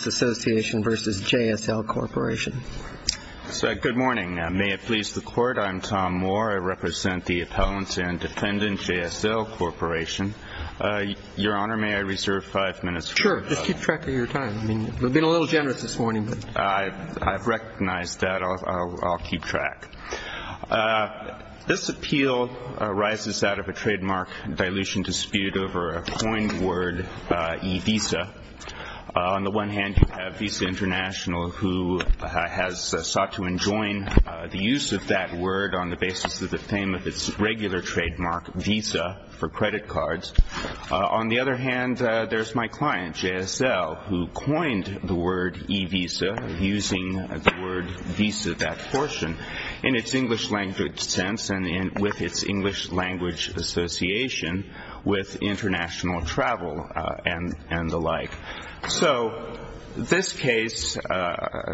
Good morning. May it please the Court, I'm Tom Moore. I represent the Appellants and Defendants JSL Corporation. Your Honor, may I reserve five minutes for a couple of questions. Sure, just keep track of your time. We've been a little generous this morning. I've recognized that. I'll keep track. This appeal arises out of a trademark dilution dispute over a coined word, e-visa. On the one hand, you have Visa International, who has sought to enjoin the use of that word on the basis of the fame of its regular trademark, visa, for credit cards. On the other hand, there's my client, JSL, who coined the word e-visa, using the word visa, that portion, in its English language sense and with its English language association with international travel and the like. So this case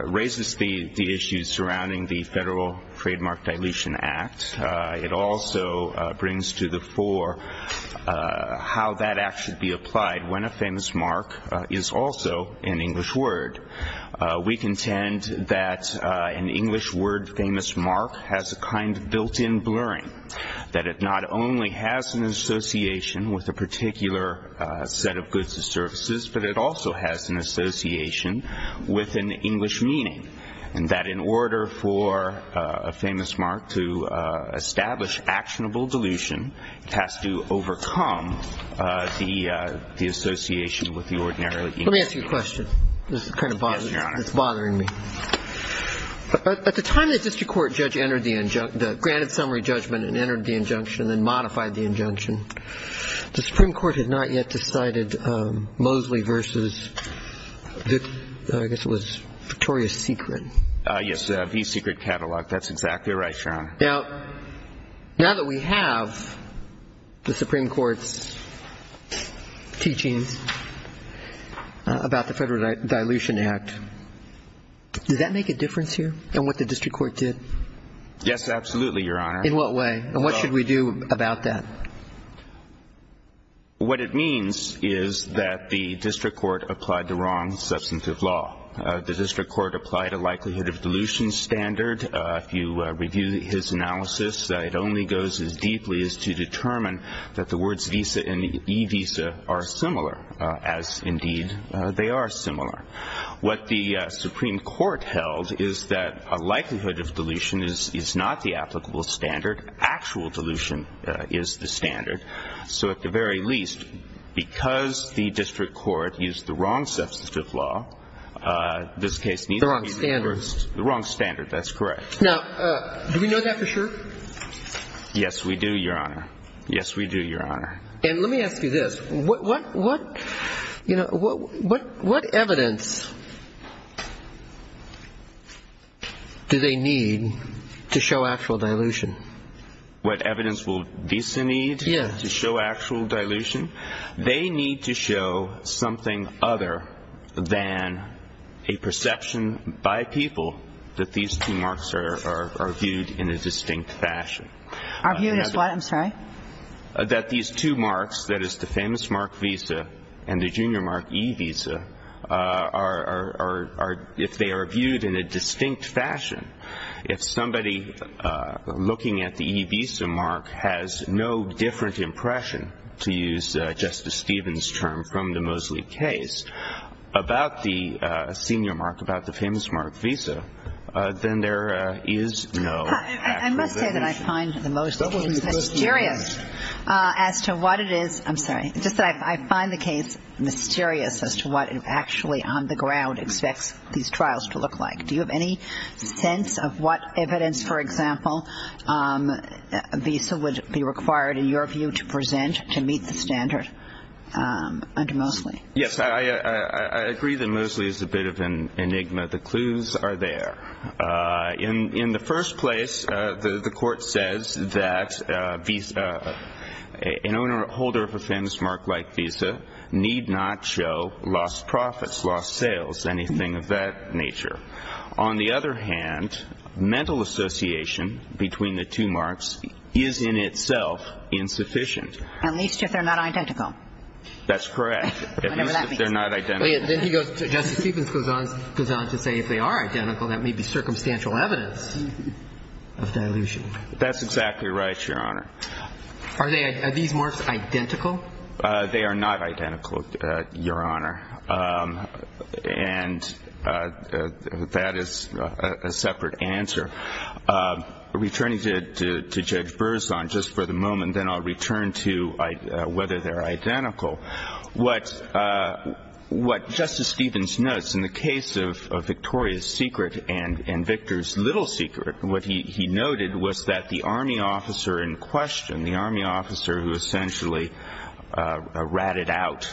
raises the issues surrounding the Federal Trademark Dilution Act. It also brings to the fore how that act should be applied when a famous mark is also an English word. We contend that an English word famous mark has a kind of built-in blurring, that it not only has an association with a particular set of goods and services, but it also has an association with an English meaning, and that in order for a famous mark to establish actionable dilution, it has to overcome the association with the ordinary English word. Let me ask you a question. Yes, Your Honor. This is kind of bothering me. At the time the district court judge entered the granted summary judgment and entered the injunction and then modified the injunction, the Supreme Court had not yet decided Mosley v. I guess it was Victoria's Secret. Yes, V. Secret Catalog. That's exactly right, Your Honor. Now that we have the Supreme Court's teachings about the Federal Dilution Act, does that make a difference here in what the district court did? Yes, absolutely, Your Honor. In what way? And what should we do about that? What it means is that the district court applied the wrong substantive law. The district court applied a likelihood of dilution standard. If you review his analysis, it only goes as deeply as to determine that the words visa and e-visa are similar, as indeed they are similar. What the Supreme Court held is that a likelihood of dilution is not the applicable standard. Actual dilution is the standard. So at the very least, because the district court used the wrong substantive law, this case needs to be reversed. The wrong standard. That's correct. Now, do we know that for sure? Yes, we do, Your Honor. Yes, we do, Your Honor. And let me ask you this. What evidence do they need to show actual dilution? What evidence will visa need to show actual dilution? They need to show something other than a perception by people that these two marks are viewed in a distinct fashion. Are viewed as what? I'm sorry? That these two marks, that is, the famous mark visa and the junior mark e-visa, are viewed in a distinct fashion. If somebody looking at the e-visa mark has no different impression, to use Justice Stevens' term from the Mosley case, about the senior mark, about the famous mark visa, then there is no actual dilution. I must say that I find the Mosley case mysterious as to what it is. I'm sorry. Just that I find the case mysterious as to what it actually on the ground expects these trials to look like. Do you have any sense of what evidence, for example, a visa would be required, in your view, to present to meet the standard under Mosley? Yes, I agree that Mosley is a bit of an enigma. The clues are there. In the first place, the court says that an owner or holder of a famous mark like visa need not show lost profits, lost sales, anything of that nature. On the other hand, mental association between the two marks is in itself insufficient. At least if they're not identical. That's correct. Whatever that means. At least if they're not identical. Justice Stevens goes on to say if they are identical, that may be circumstantial evidence of dilution. That's exactly right, Your Honor. Are these marks identical? They are not identical, Your Honor. And that is a separate answer. Returning to Judge Berzon just for the moment, then I'll return to whether they're identical. What Justice Stevens notes in the case of Victoria's Secret and Victor's Little Secret, what he noted was that the Army officer in question, the Army officer who essentially ratted out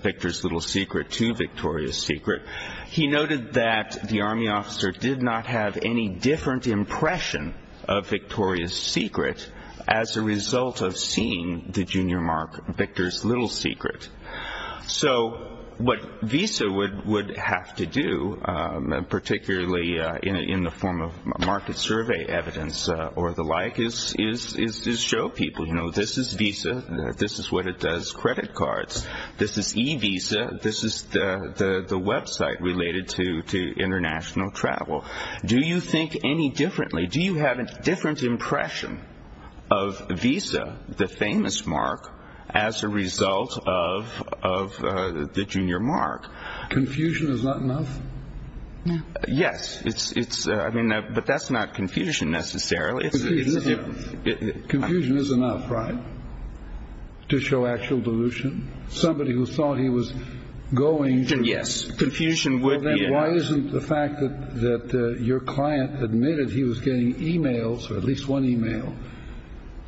Victor's Little Secret to Victoria's Secret, he noted that the Army officer did not have any different impression of Victoria's Secret as a result of seeing the junior mark Victor's Little Secret. So what Visa would have to do, particularly in the form of market survey evidence or the like, is show people, you know, this is Visa. This is what it does credit cards. This is e-Visa. This is the website related to international travel. Do you think any differently? Do you have a different impression of Visa, the famous mark, as a result of the junior mark? Confusion is not enough? Yes. But that's not confusion necessarily. Confusion is enough, right, to show actual dilution? Somebody who thought he was going to. Yes. Confusion would be enough. Then why isn't the fact that your client admitted he was getting e-mails, or at least one e-mail,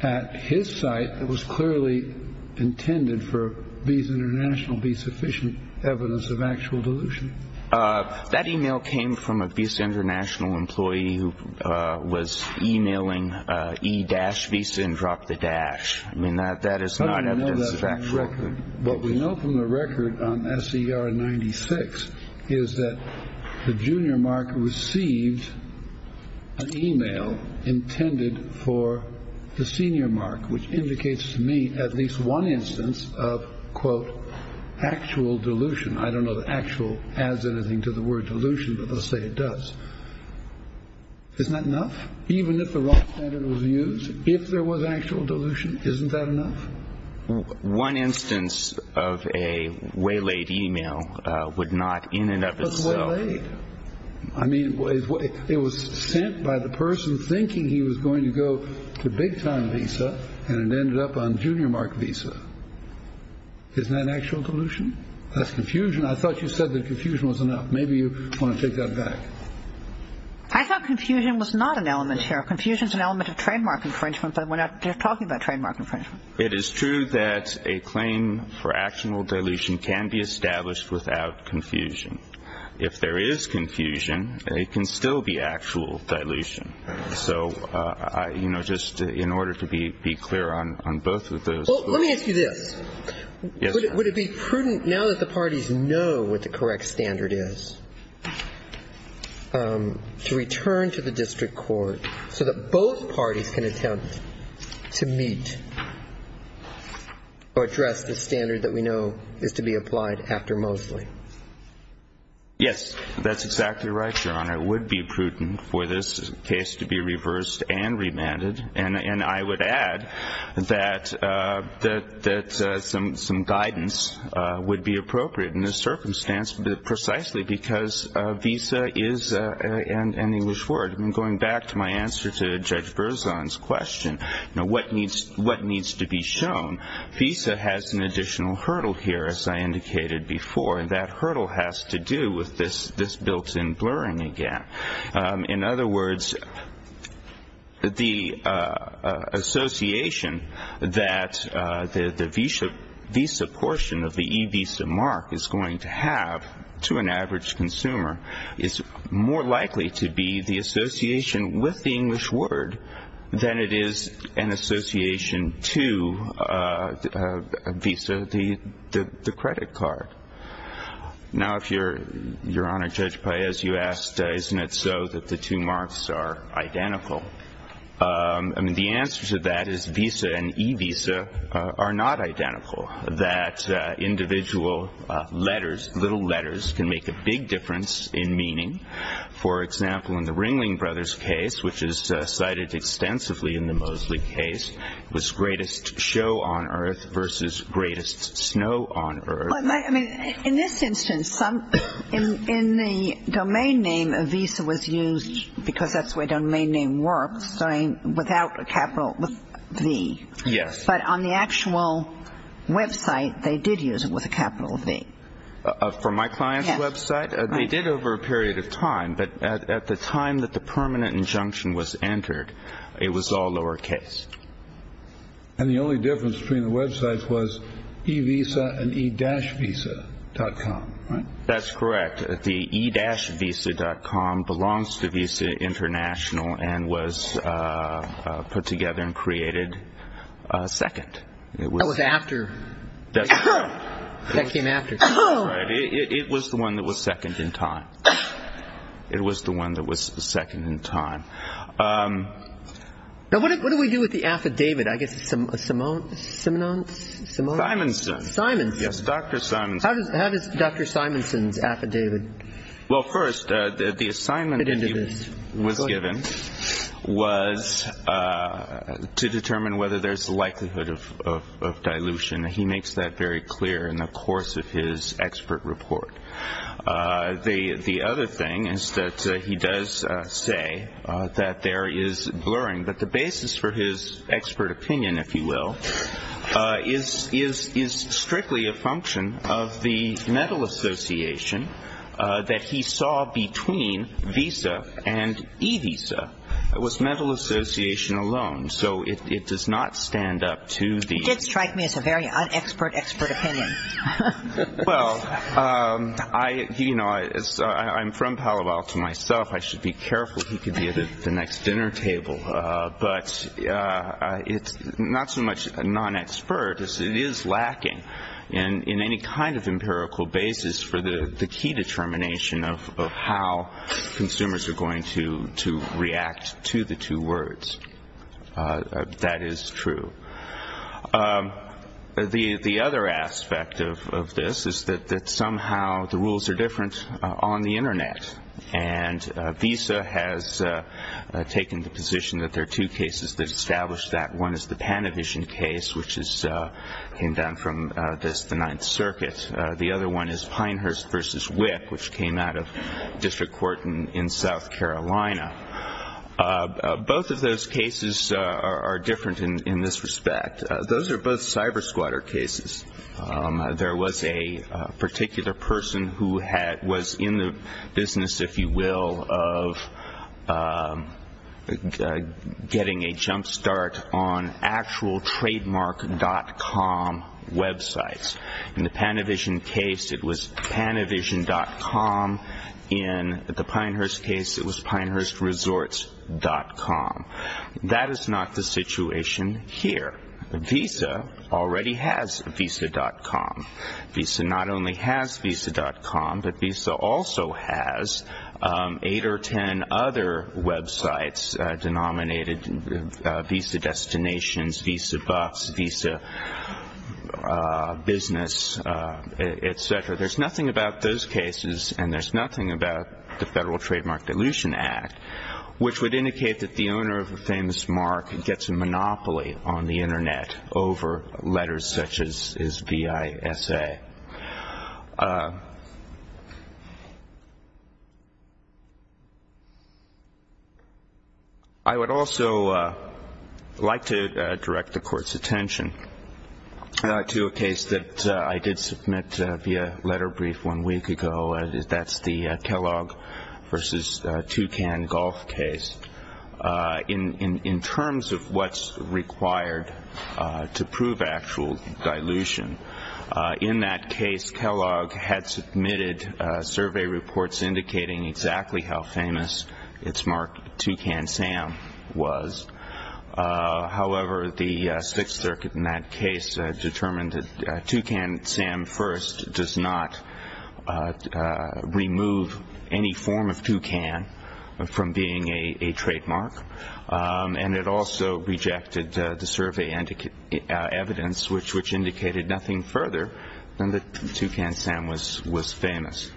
at his site that was clearly intended for Visa International Visa to be sufficient evidence of actual dilution? That e-mail came from a Visa International employee who was e-mailing E-Visa and dropped the dash. I mean, that is not evidence of actual dilution. What we know from the record on SCR 96 is that the junior mark received an e-mail intended for the senior mark, which indicates to me at least one instance of, quote, actual dilution. I don't know that actual adds anything to the word dilution, but let's say it does. Isn't that enough? Even if the wrong standard was used, if there was actual dilution, isn't that enough? One instance of a waylaid e-mail would not in and of itself. I mean, it was sent by the person thinking he was going to go to big time Visa, and it ended up on junior mark Visa. Isn't that actual dilution? That's confusion. I thought you said that confusion was enough. Maybe you want to take that back. I thought confusion was not an element here. Confusion is an element of trademark infringement, but we're not talking about trademark infringement. It is true that a claim for actual dilution can be established without confusion. If there is confusion, it can still be actual dilution. So, you know, just in order to be clear on both of those. Well, let me ask you this. Would it be prudent, now that the parties know what the correct standard is, to return to the district court so that both parties can attempt to meet or address the standard that we know is to be applied after Mosley? Yes, that's exactly right, Your Honor. It would be prudent for this case to be reversed and remanded. And I would add that some guidance would be appropriate in this circumstance precisely because Visa is an English word. And going back to my answer to Judge Berzon's question, you know, what needs to be shown, Visa has an additional hurdle here, as I indicated before, and that hurdle has to do with this built-in blurring again. In other words, the association that the Visa portion of the e-Visa mark is going to have to an average consumer is more likely to be the association with the English word than it is an association to Visa, the credit card. Now, Your Honor, Judge Paez, you asked, isn't it so that the two marks are identical? I mean, the answer to that is Visa and e-Visa are not identical, that individual letters, little letters, can make a big difference in meaning. For example, in the Ringling Brothers case, which is cited extensively in the Mosley case, it was greatest show on earth versus greatest snow on earth. I mean, in this instance, in the domain name, Visa was used because that's the way a domain name works, without a capital V. Yes. But on the actual website, they did use it with a capital V. For my client's website? Yes. They did over a period of time, but at the time that the permanent injunction was entered, it was all lowercase. And the only difference between the websites was e-Visa and e-Visa.com, right? That's correct. The e-Visa.com belongs to Visa International and was put together and created second. It was after. That came after. It was the one that was second in time. It was the one that was second in time. Now, what do we do with the affidavit? I guess it's Simone's? Simonson. Simonson. Yes, Dr. Simonson. How does Dr. Simonson's affidavit fit into this? Well, first, the assignment that he was given was to determine whether there's a likelihood of dilution. He makes that very clear in the course of his expert report. The other thing is that he does say that there is blurring, but the basis for his expert opinion, if you will, is strictly a function of the mental association that he saw between Visa and e-Visa. It was mental association alone. So it does not stand up to the. It did strike me as a very un-expert, expert opinion. Well, you know, I'm from Palo Alto myself. I should be careful. He could be at the next dinner table. But it's not so much a non-expert as it is lacking in any kind of empirical basis for the key determination of how consumers are going to react to the two words. That is true. The other aspect of this is that somehow the rules are different on the Internet. And Visa has taken the position that there are two cases that establish that. One is the Panavision case, which came down from the Ninth Circuit. The other one is Pinehurst v. WIC, which came out of District Court in South Carolina. Both of those cases are different in this respect. Those are both cyber-squatter cases. There was a particular person who was in the business, if you will, of getting a jump start on actual Trademark.com websites. In the Panavision case, it was Panavision.com. In the Pinehurst case, it was PinehurstResorts.com. That is not the situation here. Visa already has Visa.com. Visa not only has Visa.com, but Visa also has eight or ten other websites denominated Visa Destinations, Visa Bucks, Visa Business, et cetera. There's nothing about those cases, and there's nothing about the Federal Trademark Dilution Act, which would indicate that the owner of a famous mark gets a monopoly on the Internet over letters such as VISA. Okay. I would also like to direct the Court's attention to a case that I did submit via letter brief one week ago. That's the Kellogg v. Toucan golf case. In terms of what's required to prove actual dilution, in that case, Kellogg had submitted survey reports indicating exactly how famous its mark, Toucan Sam, was. However, the Sixth Circuit in that case determined that Toucan Sam First does not remove any form of toucan from being a trademark, and it also rejected the survey evidence, which indicated nothing further than that Toucan Sam was famous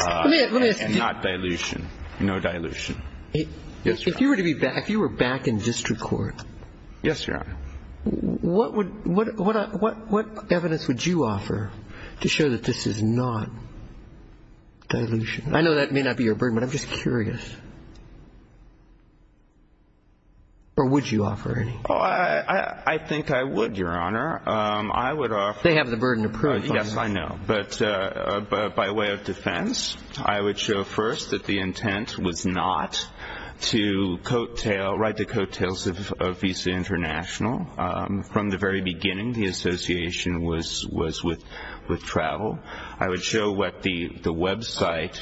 and not dilution, no dilution. If you were to be back, if you were back in district court, what evidence would you offer to show that this is not dilution? I know that may not be your burden, but I'm just curious. Or would you offer any? Oh, I think I would, Your Honor. I would offer. They have the burden to prove. Yes, I know. But by way of defense, I would show first that the intent was not to write the coattails of VISA International. From the very beginning, the association was with travel. I would show what the website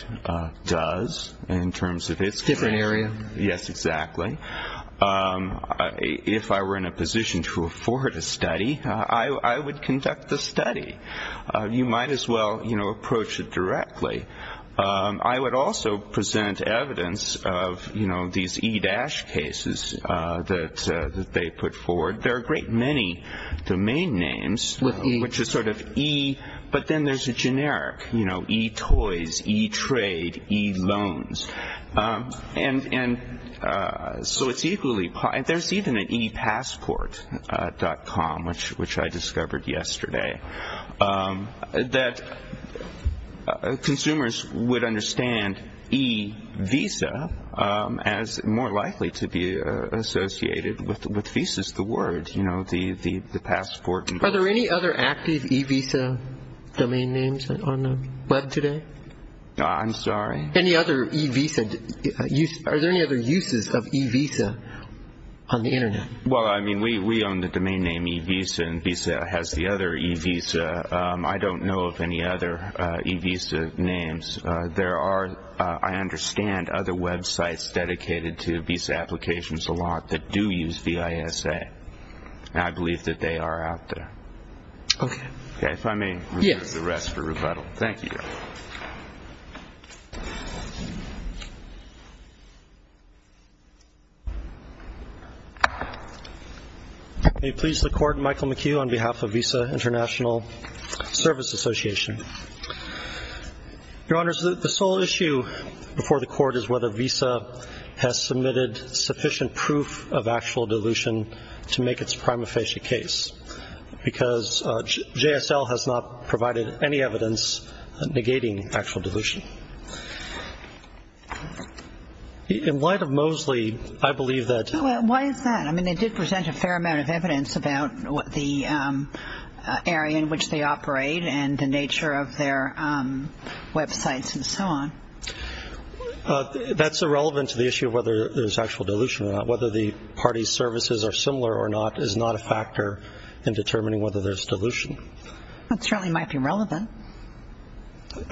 does in terms of its- Different area. Yes, exactly. If I were in a position to afford a study, I would conduct the study. You might as well approach it directly. I would also present evidence of these E-cases that they put forward. There are a great many domain names, which is sort of E, but then there's a generic, you know, E-toys, E-trade, E-loans. And so it's equally-there's even an E-passport.com, which I discovered yesterday, that consumers would understand E-VISA as more likely to be associated with visas, the word, you know, the passport. Are there any other active E-VISA domain names on the Web today? I'm sorry? Any other E-VISA-are there any other uses of E-VISA on the Internet? Well, I mean, we own the domain name E-VISA, and E-VISA has the other E-VISA. I don't know of any other E-VISA names. There are, I understand, other websites dedicated to visa applications a lot that do use VISA, and I believe that they are out there. Okay. Okay, if I may- Yes. I'll leave the rest for rebuttal. Thank you. May it please the Court, Michael McHugh on behalf of VISA International Service Association. Your Honors, the sole issue before the Court is whether VISA has submitted sufficient proof of actual dilution to make its prima facie case, because JSL has not provided any evidence negating actual dilution. In light of Moseley, I believe that- Why is that? I mean, they did present a fair amount of evidence about the area in which they operate and the nature of their websites and so on. That's irrelevant to the issue of whether there's actual dilution or not, and whether the parties' services are similar or not is not a factor in determining whether there's dilution. That certainly might be relevant.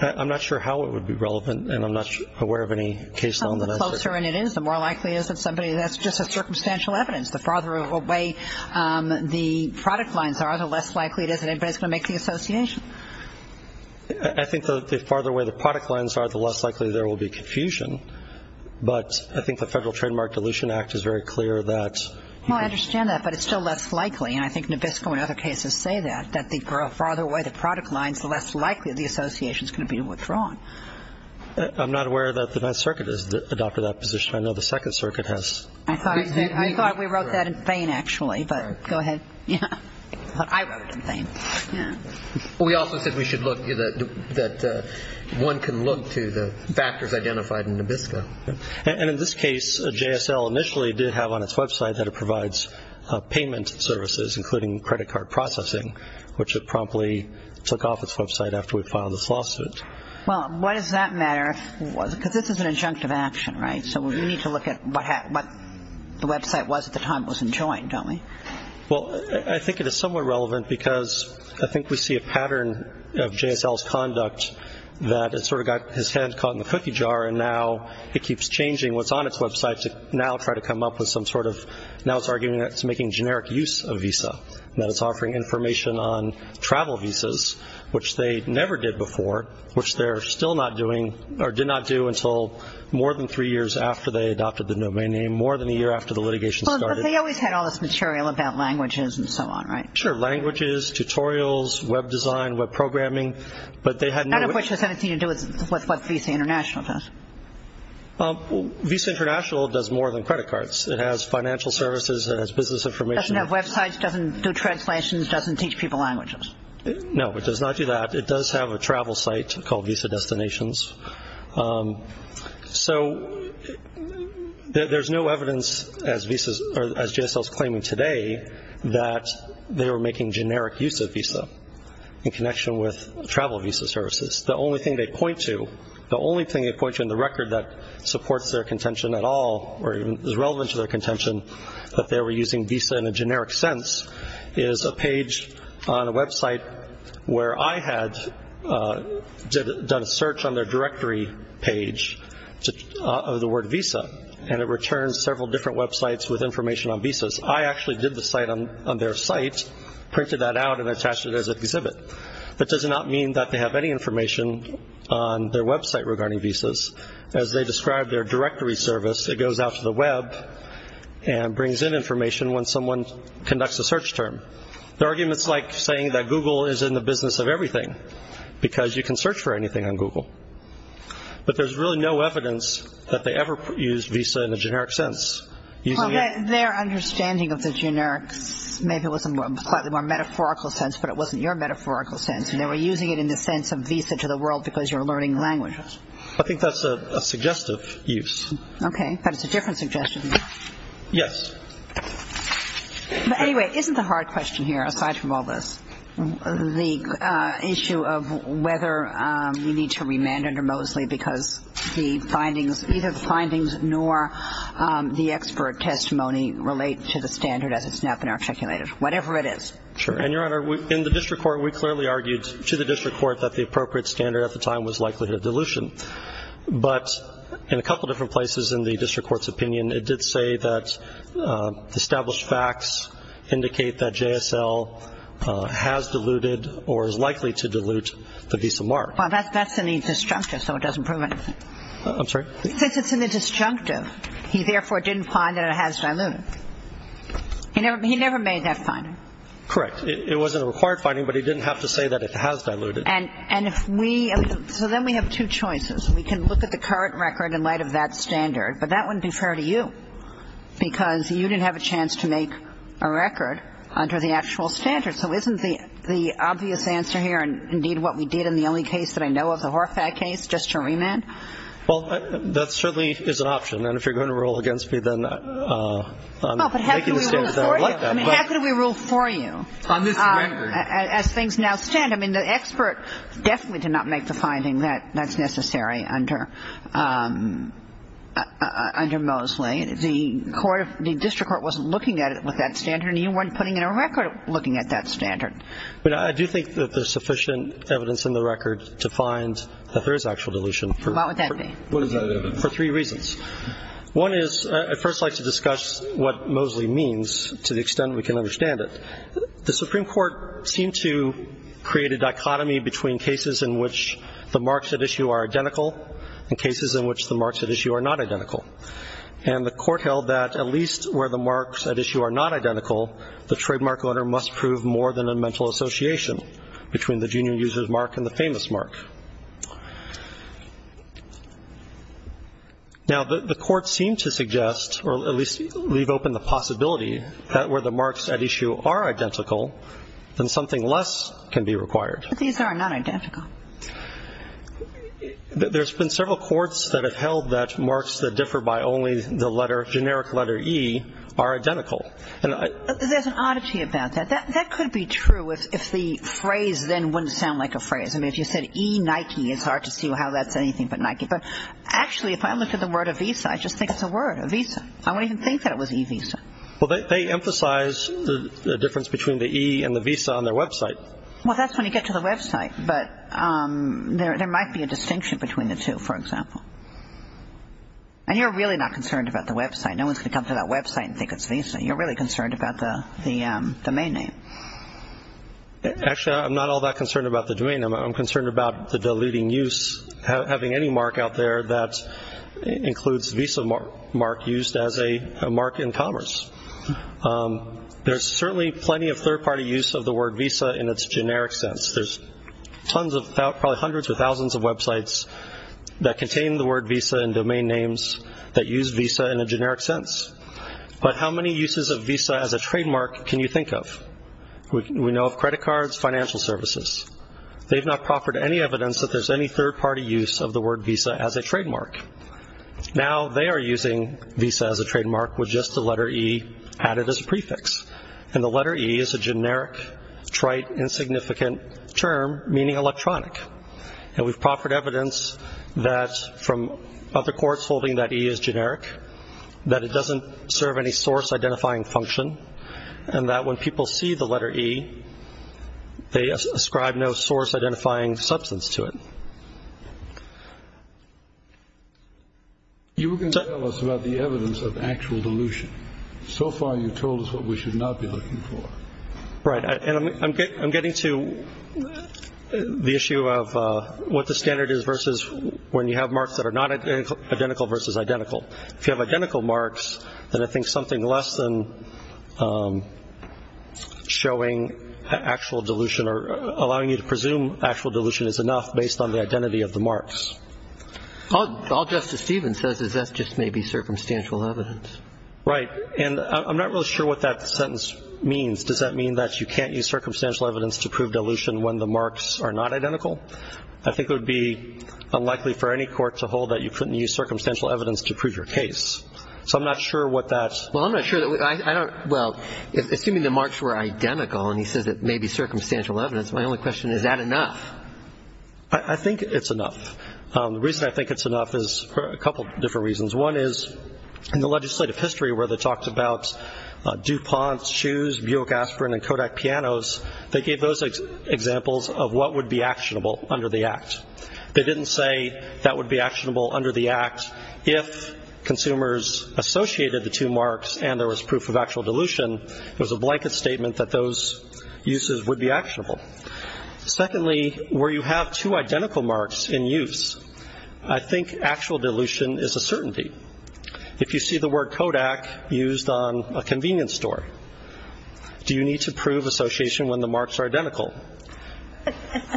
I'm not sure how it would be relevant, and I'm not aware of any case- The closer in it is, the more likely it is that somebody-that's just a circumstantial evidence. The farther away the product lines are, the less likely it is that anybody is going to make the association. I think the farther away the product lines are, the less likely there will be confusion, but I think the Federal Trademark Dilution Act is very clear that- Well, I understand that, but it's still less likely, and I think Nabisco and other cases say that, that the farther away the product line is, the less likely the association is going to be withdrawn. I'm not aware that the 9th Circuit has adopted that position. I know the 2nd Circuit has. I thought we wrote that in vain, actually, but go ahead. I wrote it in vain. We also said we should look-that one can look to the factors identified in Nabisco. And in this case, JSL initially did have on its website that it provides payment services, including credit card processing, which it promptly took off its website after we filed this lawsuit. Well, why does that matter? Because this is an injunctive action, right? So we need to look at what the website was at the time it was enjoined, don't we? Well, I think it is somewhat relevant because I think we see a pattern of JSL's conduct that it sort of got his hand caught in the cookie jar, and now it keeps changing what's on its website to now try to come up with some sort of- now it's arguing that it's making generic use of Visa, that it's offering information on travel Visas, which they never did before, which they're still not doing or did not do until more than three years after they adopted the domain name, more than a year after the litigation started. They always had all this material about languages and so on, right? Sure, languages, tutorials, web design, web programming, but they had no- None of which has anything to do with what Visa International does. Visa International does more than credit cards. It has financial services. It has business information. It doesn't have websites. It doesn't do translations. It doesn't teach people languages. No, it does not do that. It does have a travel site called Visa Destinations. So there's no evidence, as JSL is claiming today, that they were making generic use of Visa in connection with travel Visa services. The only thing they point to, the only thing they point to in the record that supports their contention at all or is relevant to their contention that they were using Visa in a generic sense is a page on a website where I had done a search on their directory page of the word Visa, and it returns several different websites with information on Visas. I actually did the site on their site, printed that out, and attached it as an exhibit. That does not mean that they have any information on their website regarding Visas. As they describe their directory service, it goes out to the web and brings in information when someone conducts a search term. Their argument is like saying that Google is in the business of everything because you can search for anything on Google. But there's really no evidence that they ever used Visa in a generic sense. Their understanding of the generic maybe was in a more metaphorical sense, but it wasn't your metaphorical sense, and they were using it in the sense of Visa to the world because you're learning languages. I think that's a suggestive use. Okay. But it's a different suggestion. Yes. But anyway, isn't the hard question here, aside from all this, the issue of whether you need to remand under Moseley because the findings, either the findings nor the expert testimony relate to the standard as it's now been articulated, whatever it is. Sure. And, Your Honor, in the district court, we clearly argued to the district court that the appropriate standard at the time was likelihood of dilution. But in a couple of different places in the district court's opinion, it did say that established facts indicate that JSL has diluted or is likely to dilute the Visa mark. Well, that's in the disjunctive, so it doesn't prove anything. I'm sorry? Since it's in the disjunctive, he therefore didn't find that it has diluted. He never made that finding. Correct. It wasn't a required finding, but he didn't have to say that it has diluted. And if we – so then we have two choices. We can look at the current record in light of that standard, but that wouldn't be fair to you, because you didn't have a chance to make a record under the actual standard. So isn't the obvious answer here, and indeed what we did in the only case that I know of, the Horfak case, just to remand? Well, that certainly is an option, and if you're going to rule against me, then I'm making the standard that I would like that. How can we rule for you? On this record. As things now stand, I mean, the expert definitely did not make the finding that that's necessary under Mosley. The District Court wasn't looking at it with that standard, and you weren't putting in a record looking at that standard. But I do think that there's sufficient evidence in the record to find that there is actual dilution. What would that be? What is that evidence? For three reasons. One is I'd first like to discuss what Mosley means to the extent we can understand it. The Supreme Court seemed to create a dichotomy between cases in which the marks at issue are identical and cases in which the marks at issue are not identical. And the Court held that at least where the marks at issue are not identical, the trademark owner must prove more than a mental association between the junior user's mark and the famous mark. Now, the Court seemed to suggest, or at least leave open the possibility, that where the marks at issue are identical, then something less can be required. But these are not identical. There's been several courts that have held that marks that differ by only the letter, generic letter E, are identical. There's an oddity about that. That could be true if the phrase then wouldn't sound like a phrase. I mean, if you said E-Nike, it's hard to see how that's anything but Nike. But actually, if I looked at the word Avisa, I just think it's a word, Avisa. I wouldn't even think that it was E-Visa. Well, they emphasize the difference between the E and the Visa on their website. Well, that's when you get to the website. But there might be a distinction between the two, for example. And you're really not concerned about the website. No one's going to come to that website and think it's Visa. You're really concerned about the domain name. Actually, I'm not all that concerned about the domain name. I'm concerned about the deleting use, having any mark out there that includes Visa mark used as a mark in commerce. There's certainly plenty of third-party use of the word Visa in its generic sense. There's probably hundreds or thousands of websites that contain the word Visa and domain names that use Visa in a generic sense. But how many uses of Visa as a trademark can you think of? We know of credit cards, financial services. They've not proffered any evidence that there's any third-party use of the word Visa as a trademark. Now they are using Visa as a trademark with just the letter E added as a prefix. And the letter E is a generic, trite, insignificant term, meaning electronic. And we've proffered evidence that from other courts holding that E is generic, that it doesn't serve any source-identifying function, and that when people see the letter E, they ascribe no source-identifying substance to it. You were going to tell us about the evidence of actual dilution. So far you've told us what we should not be looking for. Right, and I'm getting to the issue of what the standard is versus when you have marks that are not identical versus identical. If you have identical marks, then I think something less than showing actual dilution or allowing you to presume actual dilution is enough based on the identity of the marks. All Justice Stevens says is that's just maybe circumstantial evidence. Right, and I'm not really sure what that sentence means. Does that mean that you can't use circumstantial evidence to prove dilution when the marks are not identical? I think it would be unlikely for any court to hold that you couldn't use circumstantial evidence to prove your case. So I'm not sure what that is. Well, I'm not sure. Well, assuming the marks were identical and he says it may be circumstantial evidence, my only question is, is that enough? I think it's enough. The reason I think it's enough is for a couple of different reasons. One is in the legislative history where they talked about DuPont's shoes, Buick aspirin, and Kodak pianos, they gave those examples of what would be actionable under the Act. They didn't say that would be actionable under the Act if consumers associated the two marks and there was proof of actual dilution. It was a blanket statement that those uses would be actionable. Secondly, where you have two identical marks in use, I think actual dilution is a certainty. If you see the word Kodak used on a convenience store, do you need to prove association when the marks are identical?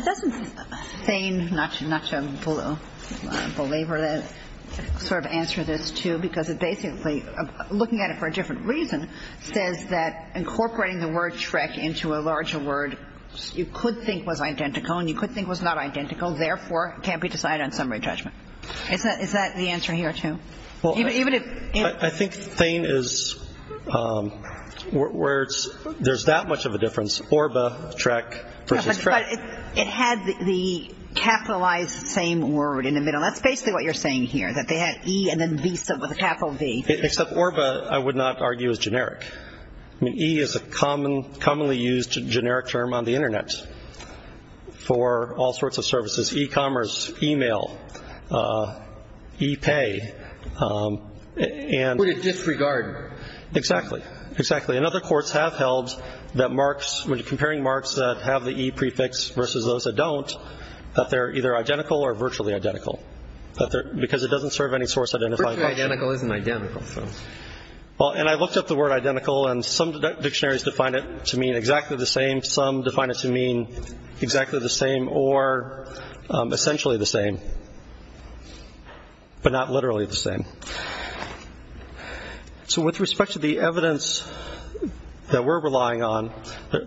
Doesn't Thayne, not to belabor that, sort of answer this, too, because it basically, looking at it for a different reason, says that incorporating the word Shrek into a larger word you could think was identical and you could think was not identical, therefore, can't be decided on summary judgment. Is that the answer here, too? I think Thayne is where there's that much of a difference, Orba, Shrek versus Shrek. But it had the capitalized same word in the middle. That's basically what you're saying here, that they had E and then V with a capital V. Except Orba, I would not argue, is generic. E is a commonly used generic term on the Internet for all sorts of services, e-commerce, e-mail. E-pay. And we're to disregard. Exactly. Exactly. And other courts have held that marks, when you're comparing marks that have the E prefix versus those that don't, that they're either identical or virtually identical, because it doesn't serve any source identifying function. Virtually identical isn't identical. And I looked up the word identical, and some dictionaries define it to mean exactly the same. Some define it to mean exactly the same or essentially the same, but not literally the same. So with respect to the evidence that we're relying on,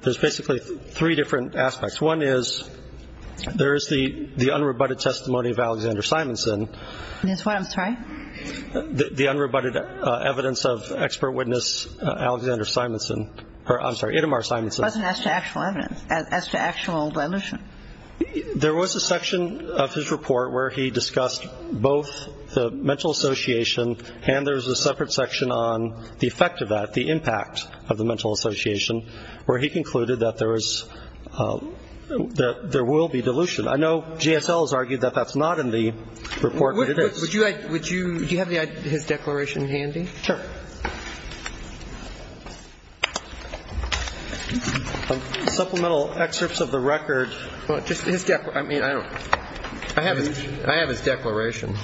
there's basically three different aspects. One is there is the unrebutted testimony of Alexander Simonson. That's what? I'm sorry? The unrebutted evidence of expert witness Alexander Simonson. I'm sorry, Itamar Simonson. It wasn't as to actual evidence, as to actual dilution. There was a section of his report where he discussed both the mental association and there was a separate section on the effect of that, the impact of the mental association, where he concluded that there was, that there will be dilution. I know GSL has argued that that's not in the report, but it is. Would you have his declaration handy? Sure. Supplemental excerpts of the record. Just his declaration. I mean, I don't. I have his declaration.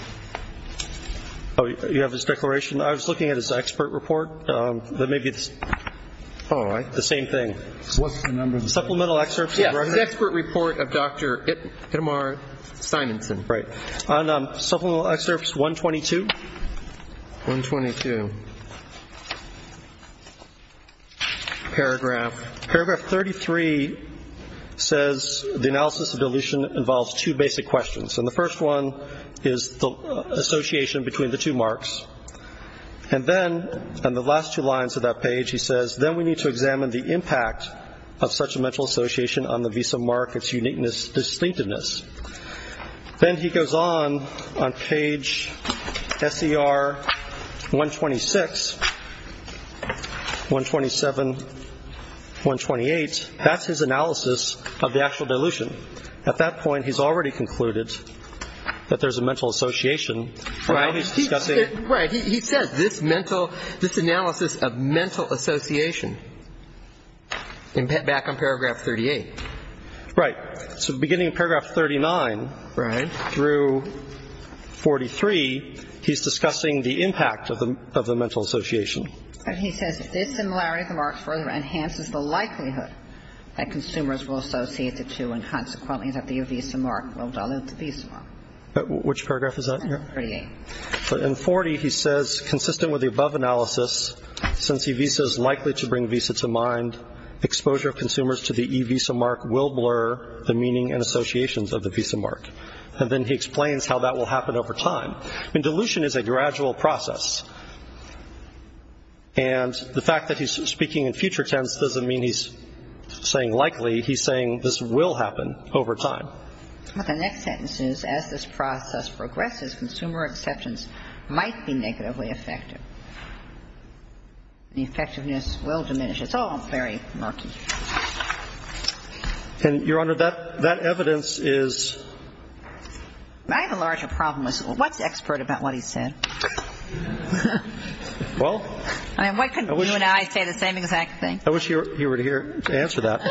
Oh, you have his declaration? I was looking at his expert report. Maybe it's the same thing. What's the number? Supplemental excerpts of the record. Yes. His expert report of Dr. Itamar Simonson. Right. Supplemental excerpts 122. 122. Paragraph. Paragraph 33 says the analysis of dilution involves two basic questions. And the first one is the association between the two marks. And then, on the last two lines of that page, he says, then we need to examine the impact of such a mental association on the visa mark, its uniqueness, distinctiveness. Then he goes on, on page SER 126, 127, 128. That's his analysis of the actual dilution. At that point, he's already concluded that there's a mental association. Right. He's discussing. Right. He says this mental, this analysis of mental association, back on paragraph 38. Right. So beginning in paragraph 39. Right. Through 43, he's discussing the impact of the mental association. He says this similarity of the marks further enhances the likelihood that consumers will associate the two and, consequently, that the E-Visa mark will dilute the visa mark. Which paragraph is that here? 38. In 40, he says, consistent with the above analysis, since E-Visa is likely to bring visa to mind, exposure of consumers to the E-Visa mark will blur the meaning and associations of the visa mark. And then he explains how that will happen over time. I mean, dilution is a gradual process. And the fact that he's speaking in future tense doesn't mean he's saying likely. He's saying this will happen over time. But the next sentence is, as this process progresses, consumer acceptance might be negatively affected. The effectiveness will diminish. It's all very murky. And, Your Honor, that evidence is. I have a larger problem with this. What's expert about what he said? Well. I mean, why couldn't you and I say the same exact thing? I wish he were here to answer that.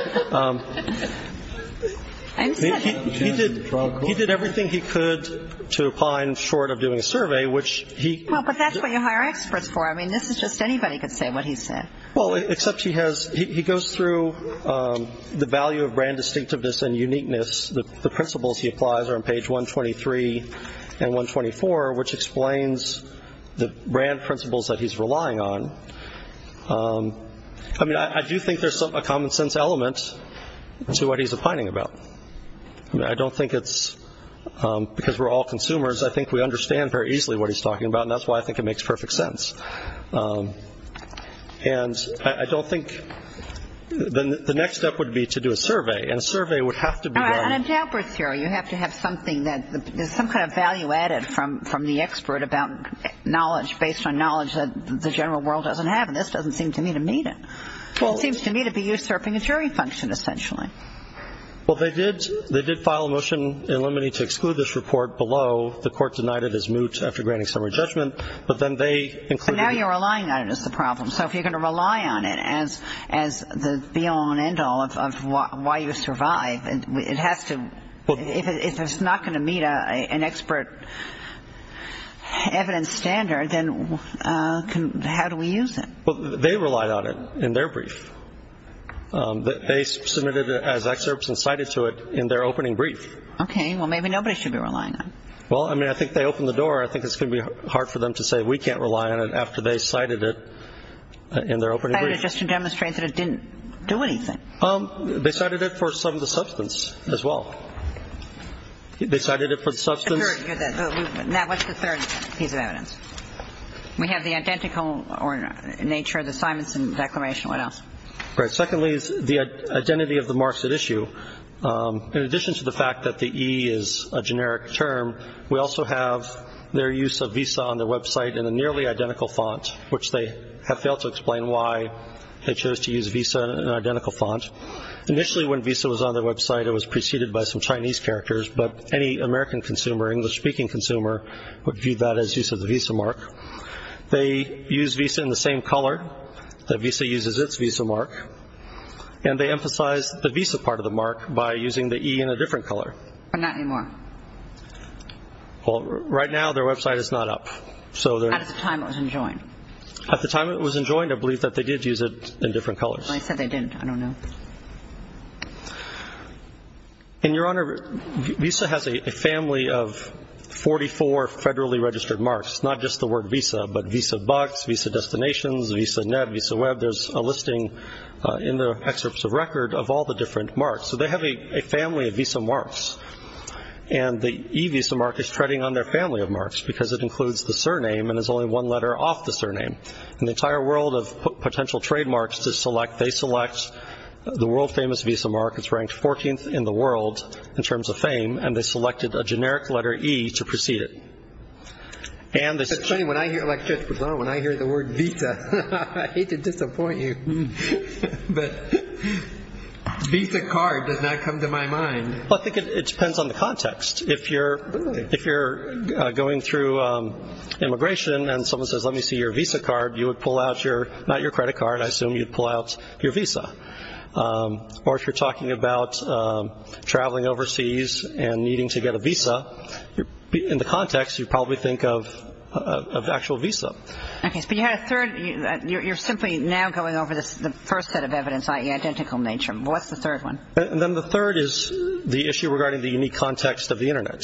I'm sorry. He did everything he could to opine short of doing a survey, which he. Well, but that's what you hire experts for. I mean, this is just anybody could say what he said. Well, except he goes through the value of brand distinctiveness and uniqueness. The principles he applies are on page 123 and 124, which explains the brand principles that he's relying on. I mean, I do think there's a common sense element to what he's opining about. I don't think it's because we're all consumers. I think we understand very easily what he's talking about. And that's why I think it makes perfect sense. And I don't think the next step would be to do a survey. And a survey would have to be done. All right. And I'm doubtless here. You have to have something that there's some kind of value added from the expert about knowledge, based on knowledge that the general world doesn't have. And this doesn't seem to me to meet it. It seems to me to be usurping a jury function, essentially. Well, they did file a motion in limine to exclude this report below. The court denied it as moot after granting summary judgment. But then they included it. But now you're relying on it as the problem. So if you're going to rely on it as the be-all and end-all of why you survive, if it's not going to meet an expert evidence standard, then how do we use it? Well, they relied on it in their brief. They submitted it as excerpts and cited to it in their opening brief. Okay. Well, maybe nobody should be relying on it. Well, I mean, I think they opened the door. I think it's going to be hard for them to say we can't rely on it after they cited it in their opening brief. They cited it just to demonstrate that it didn't do anything. They cited it for some of the substance as well. They cited it for the substance. Now, what's the third piece of evidence? We have the identical nature of the Simonson Declaration. What else? All right. Secondly is the identity of the marks at issue. In addition to the fact that the E is a generic term, we also have their use of Visa on their website in a nearly identical font, which they have failed to explain why they chose to use Visa in an identical font. Initially, when Visa was on their website, it was preceded by some Chinese characters, but any American consumer, English-speaking consumer, would view that as use of the Visa mark. They use Visa in the same color. The Visa uses its Visa mark. And they emphasize the Visa part of the mark by using the E in a different color. But not anymore. Well, right now their website is not up. At the time it was enjoined. At the time it was enjoined, I believe that they did use it in different colors. I said they didn't. I don't know. And, Your Honor, Visa has a family of 44 federally registered marks, not just the word Visa, but Visa Bucks, Visa Destinations, Visa Net, Visa Web. There's a listing in the excerpts of record of all the different marks. So they have a family of Visa marks. And the E Visa mark is treading on their family of marks because it includes the surname and there's only one letter off the surname. In the entire world of potential trademarks to select, they select the world-famous Visa mark. It's ranked 14th in the world in terms of fame. And they selected a generic letter E to precede it. It's funny, when I hear, like Judge Pizano, when I hear the word Visa, I hate to disappoint you, but Visa card does not come to my mind. Well, I think it depends on the context. If you're going through immigration and someone says, let me see your Visa card, you would pull out your, not your credit card, I assume you'd pull out your Visa. Or if you're talking about traveling overseas and needing to get a Visa, in the context you probably think of actual Visa. Okay, but you had a third, you're simply now going over the first set of evidence, i.e. identical nature. What's the third one? And then the third is the issue regarding the unique context of the Internet.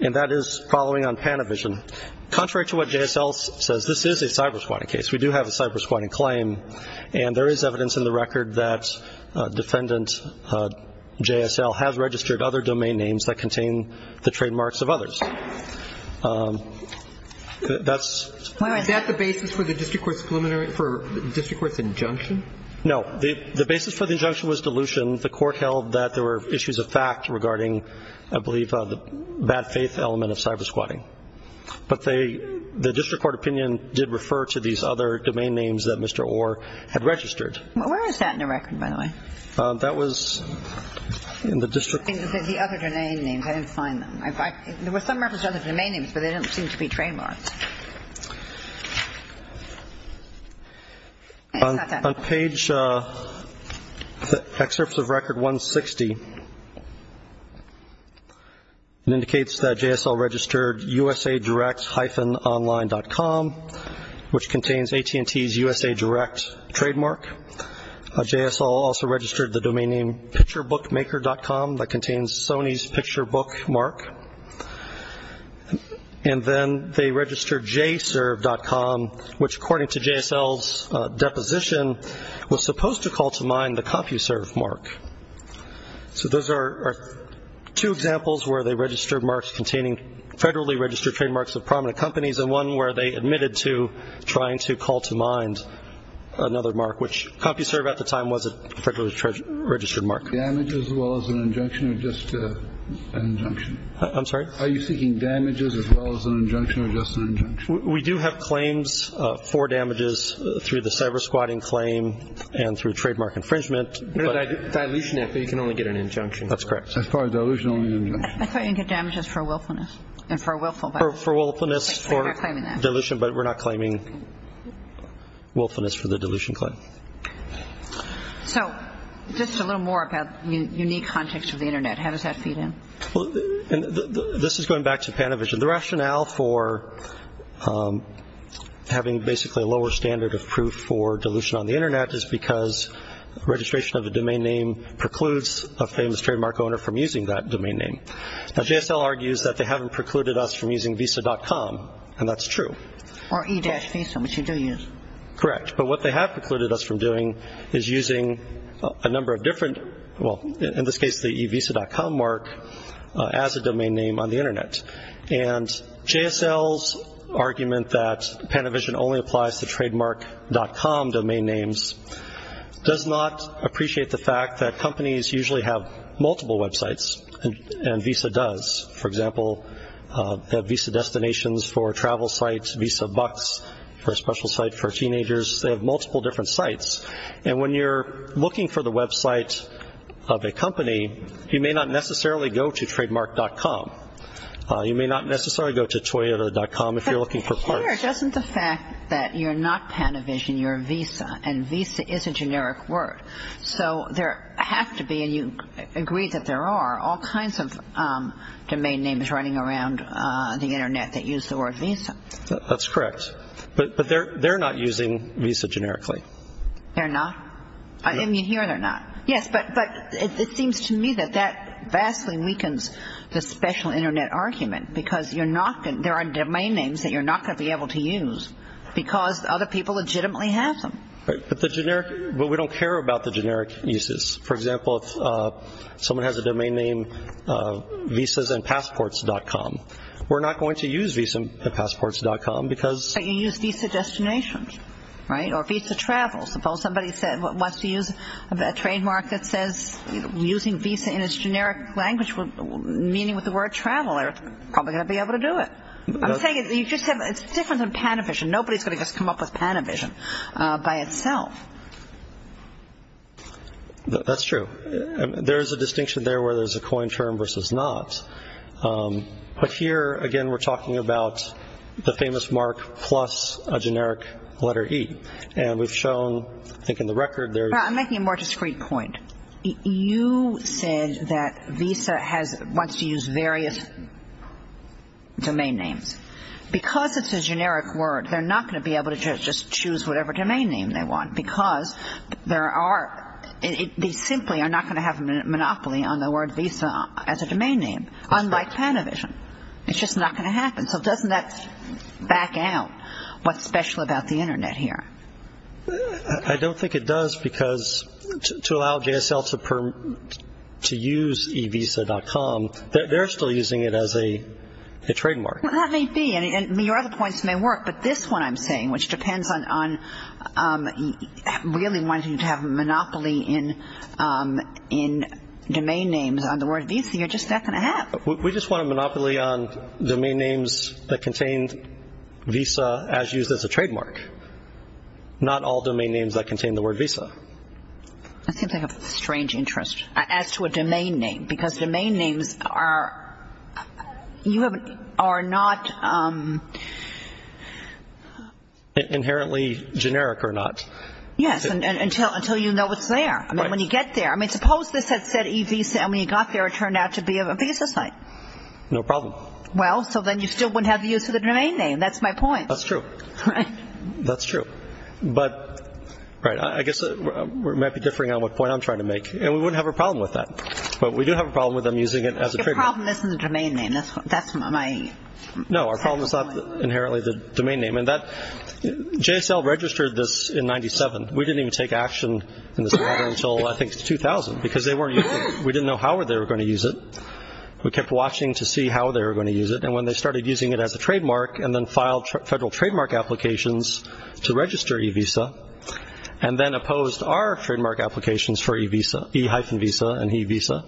And that is following on Panavision. Contrary to what JSL says, this is a cyber-squatting case. We do have a cyber-squatting claim. And there is evidence in the record that defendant JSL has registered other domain names that contain the trademarks of others. Is that the basis for the district court's injunction? No. The basis for the injunction was dilution. The court held that there were issues of fact regarding, I believe, the bad faith element of cyber-squatting. But the district court opinion did refer to these other domain names that Mr. Orr had registered. Where is that in the record, by the way? That was in the district court. I think it says the other domain names. I didn't find them. There were some records of other domain names, but they don't seem to be trademarks. On page, excerpts of record 160, it indicates that JSL registered usadirect-online.com, which contains AT&T's USA Direct trademark. JSL also registered the domain name picturebookmaker.com that contains Sony's picturebook mark. And then they registered jserve.com, which according to JSL's deposition was supposed to call to mind the CompuServe mark. So those are two examples where they registered marks containing federally registered trademarks of prominent companies and one where they admitted to trying to call to mind another mark, which CompuServe at the time was a federally registered mark. Damage as well as an injunction or just an injunction? I'm sorry? Are you seeking damages as well as an injunction or just an injunction? We do have claims for damages through the cyber-squatting claim and through trademark infringement. Dilution, you can only get an injunction. That's correct. As far as dilution, only an injunction. I thought you can get damages for willfulness and for willful. For willfulness for dilution, but we're not claiming willfulness for the dilution claim. So just a little more about the unique context of the Internet. How does that feed in? This is going back to Panavision. The rationale for having basically a lower standard of proof for dilution on the Internet is because registration of a domain name precludes a famous trademark owner from using that domain name. Now, JSL argues that they haven't precluded us from using visa.com, and that's true. Or e-visa, which you do use. Correct, but what they have precluded us from doing is using a number of different, well, in this case the e-visa.com mark as a domain name on the Internet. And JSL's argument that Panavision only applies to trademark.com domain names does not appreciate the fact that companies usually have multiple websites, and visa does. For example, they have visa destinations for travel sites, visa bucks for a special site for teenagers. They have multiple different sites. And when you're looking for the website of a company, you may not necessarily go to trademark.com. You may not necessarily go to Toyota.com if you're looking for parts. But here, doesn't the fact that you're not Panavision, you're visa, and visa is a generic word. So there have to be, and you agree that there are, all kinds of domain names running around the Internet that use the word visa. That's correct. But they're not using visa generically. They're not? I mean, here they're not. Yes, but it seems to me that that vastly weakens the special Internet argument because there are domain names that you're not going to be able to use because other people legitimately have them. Right, but we don't care about the generic uses. For example, if someone has a domain name visasandpassports.com, we're not going to use visasandpassports.com because But you use visa destinations, right, or visa travel. Suppose somebody wants to use a trademark that says using visa in its generic language meaning with the word travel. They're probably going to be able to do it. I'm saying it's different than Panavision. Nobody's going to just come up with Panavision by itself. That's true. There is a distinction there where there's a coin term versus not. But here, again, we're talking about the famous mark plus a generic letter E. And we've shown, I think in the record, there's I'm making a more discrete point. You said that Visa wants to use various domain names. Because it's a generic word, they're not going to be able to just choose whatever domain name they want because they simply are not going to have a monopoly on the word visa as a domain name, unlike Panavision. It's just not going to happen. So doesn't that back out what's special about the Internet here? I don't think it does because to allow JSL to use eVisa.com, they're still using it as a trademark. Well, that may be, and your other points may work, but this one I'm saying, which depends on really wanting to have a monopoly in domain names on the word visa, you're just not going to have. We just want a monopoly on domain names that contain visa as used as a trademark, not all domain names that contain the word visa. I think they have a strange interest as to a domain name because domain names are not... Inherently generic or not. Yes, until you know it's there. Right. No problem. Well, so then you still wouldn't have the use of the domain name. That's my point. That's true. Right. That's true. But, right, I guess it might be differing on what point I'm trying to make. And we wouldn't have a problem with that. But we do have a problem with them using it as a trigger. Your problem isn't the domain name. That's my point. No, our problem is not inherently the domain name. JSL registered this in 97. We didn't even take action in this matter until, I think, 2000 because they weren't using it. We didn't know how they were going to use it. We kept watching to see how they were going to use it. And when they started using it as a trademark and then filed federal trademark applications to register e-visa and then opposed our trademark applications for e-visa, e-visa and e-visa,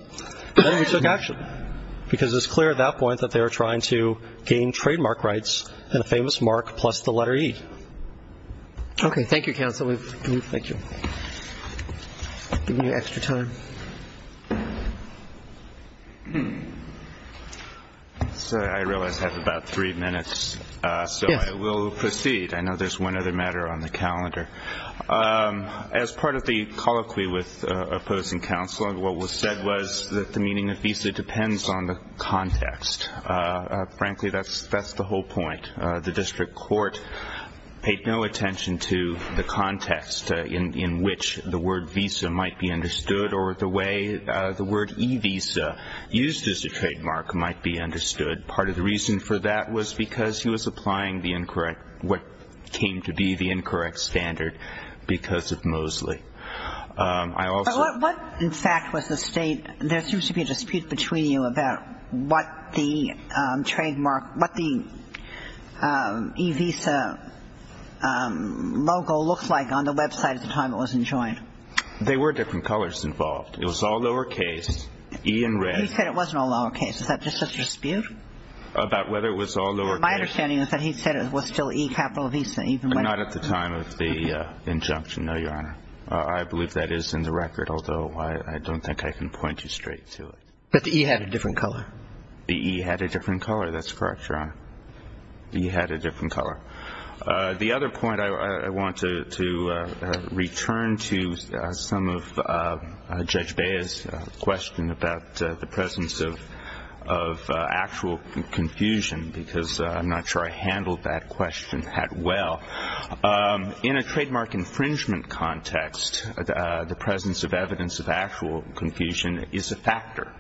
then we took action because it was clear at that point that they were trying to gain trademark rights and a famous mark plus the letter E. Okay. Thank you, counsel. Thank you. Give me extra time. Sir, I realize I have about three minutes, so I will proceed. Yes. I know there's one other matter on the calendar. As part of the colloquy with opposing counsel, what was said was that the meaning of visa depends on the context. Frankly, that's the whole point. The district court paid no attention to the context in which the word visa might be understood or the way the word e-visa used as a trademark might be understood. Part of the reason for that was because he was applying the incorrect, what came to be the incorrect standard because of Mosley. I also ---- What did the letter E-visa logo look like on the website at the time it was enjoined? There were different colors involved. It was all lowercase, E in red. He said it was no lowercase. Is that just a dispute? About whether it was all lowercase? My understanding is that he said it was still E, capital visa, even when ---- Not at the time of the injunction, no, Your Honor. I believe that is in the record, although I don't think I can point you straight to it. But the E had a different color. The E had a different color. That's correct, Your Honor. The E had a different color. The other point I want to return to is some of Judge Bea's question about the presence of actual confusion, because I'm not sure I handled that question that well. In a trademark infringement context, the presence of evidence of actual confusion is a factor.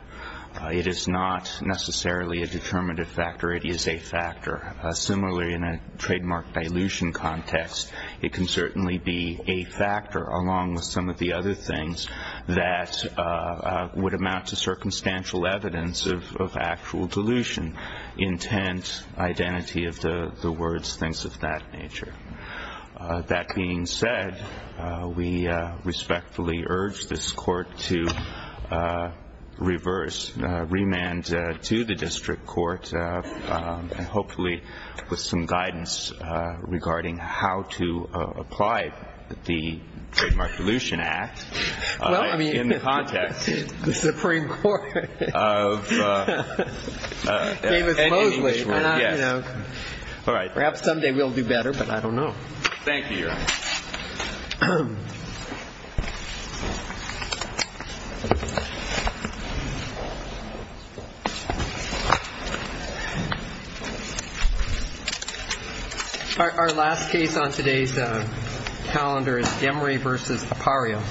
It is not necessarily a determinative factor. It is a factor. Similarly, in a trademark dilution context, it can certainly be a factor, along with some of the other things that would amount to circumstantial evidence of actual dilution, intent, identity of the words, things of that nature. That being said, we respectfully urge this Court to reverse, remand to the district court, and hopefully with some guidance regarding how to apply the Trademark Dilution Act in the context of ---- Well, I mean, the Supreme Court. Davis-Mosley. Yes. All right. Perhaps someday we'll do better, but I don't know. Thank you, Your Honor. All right. Our last case on today's calendar is Gemory v. Apario.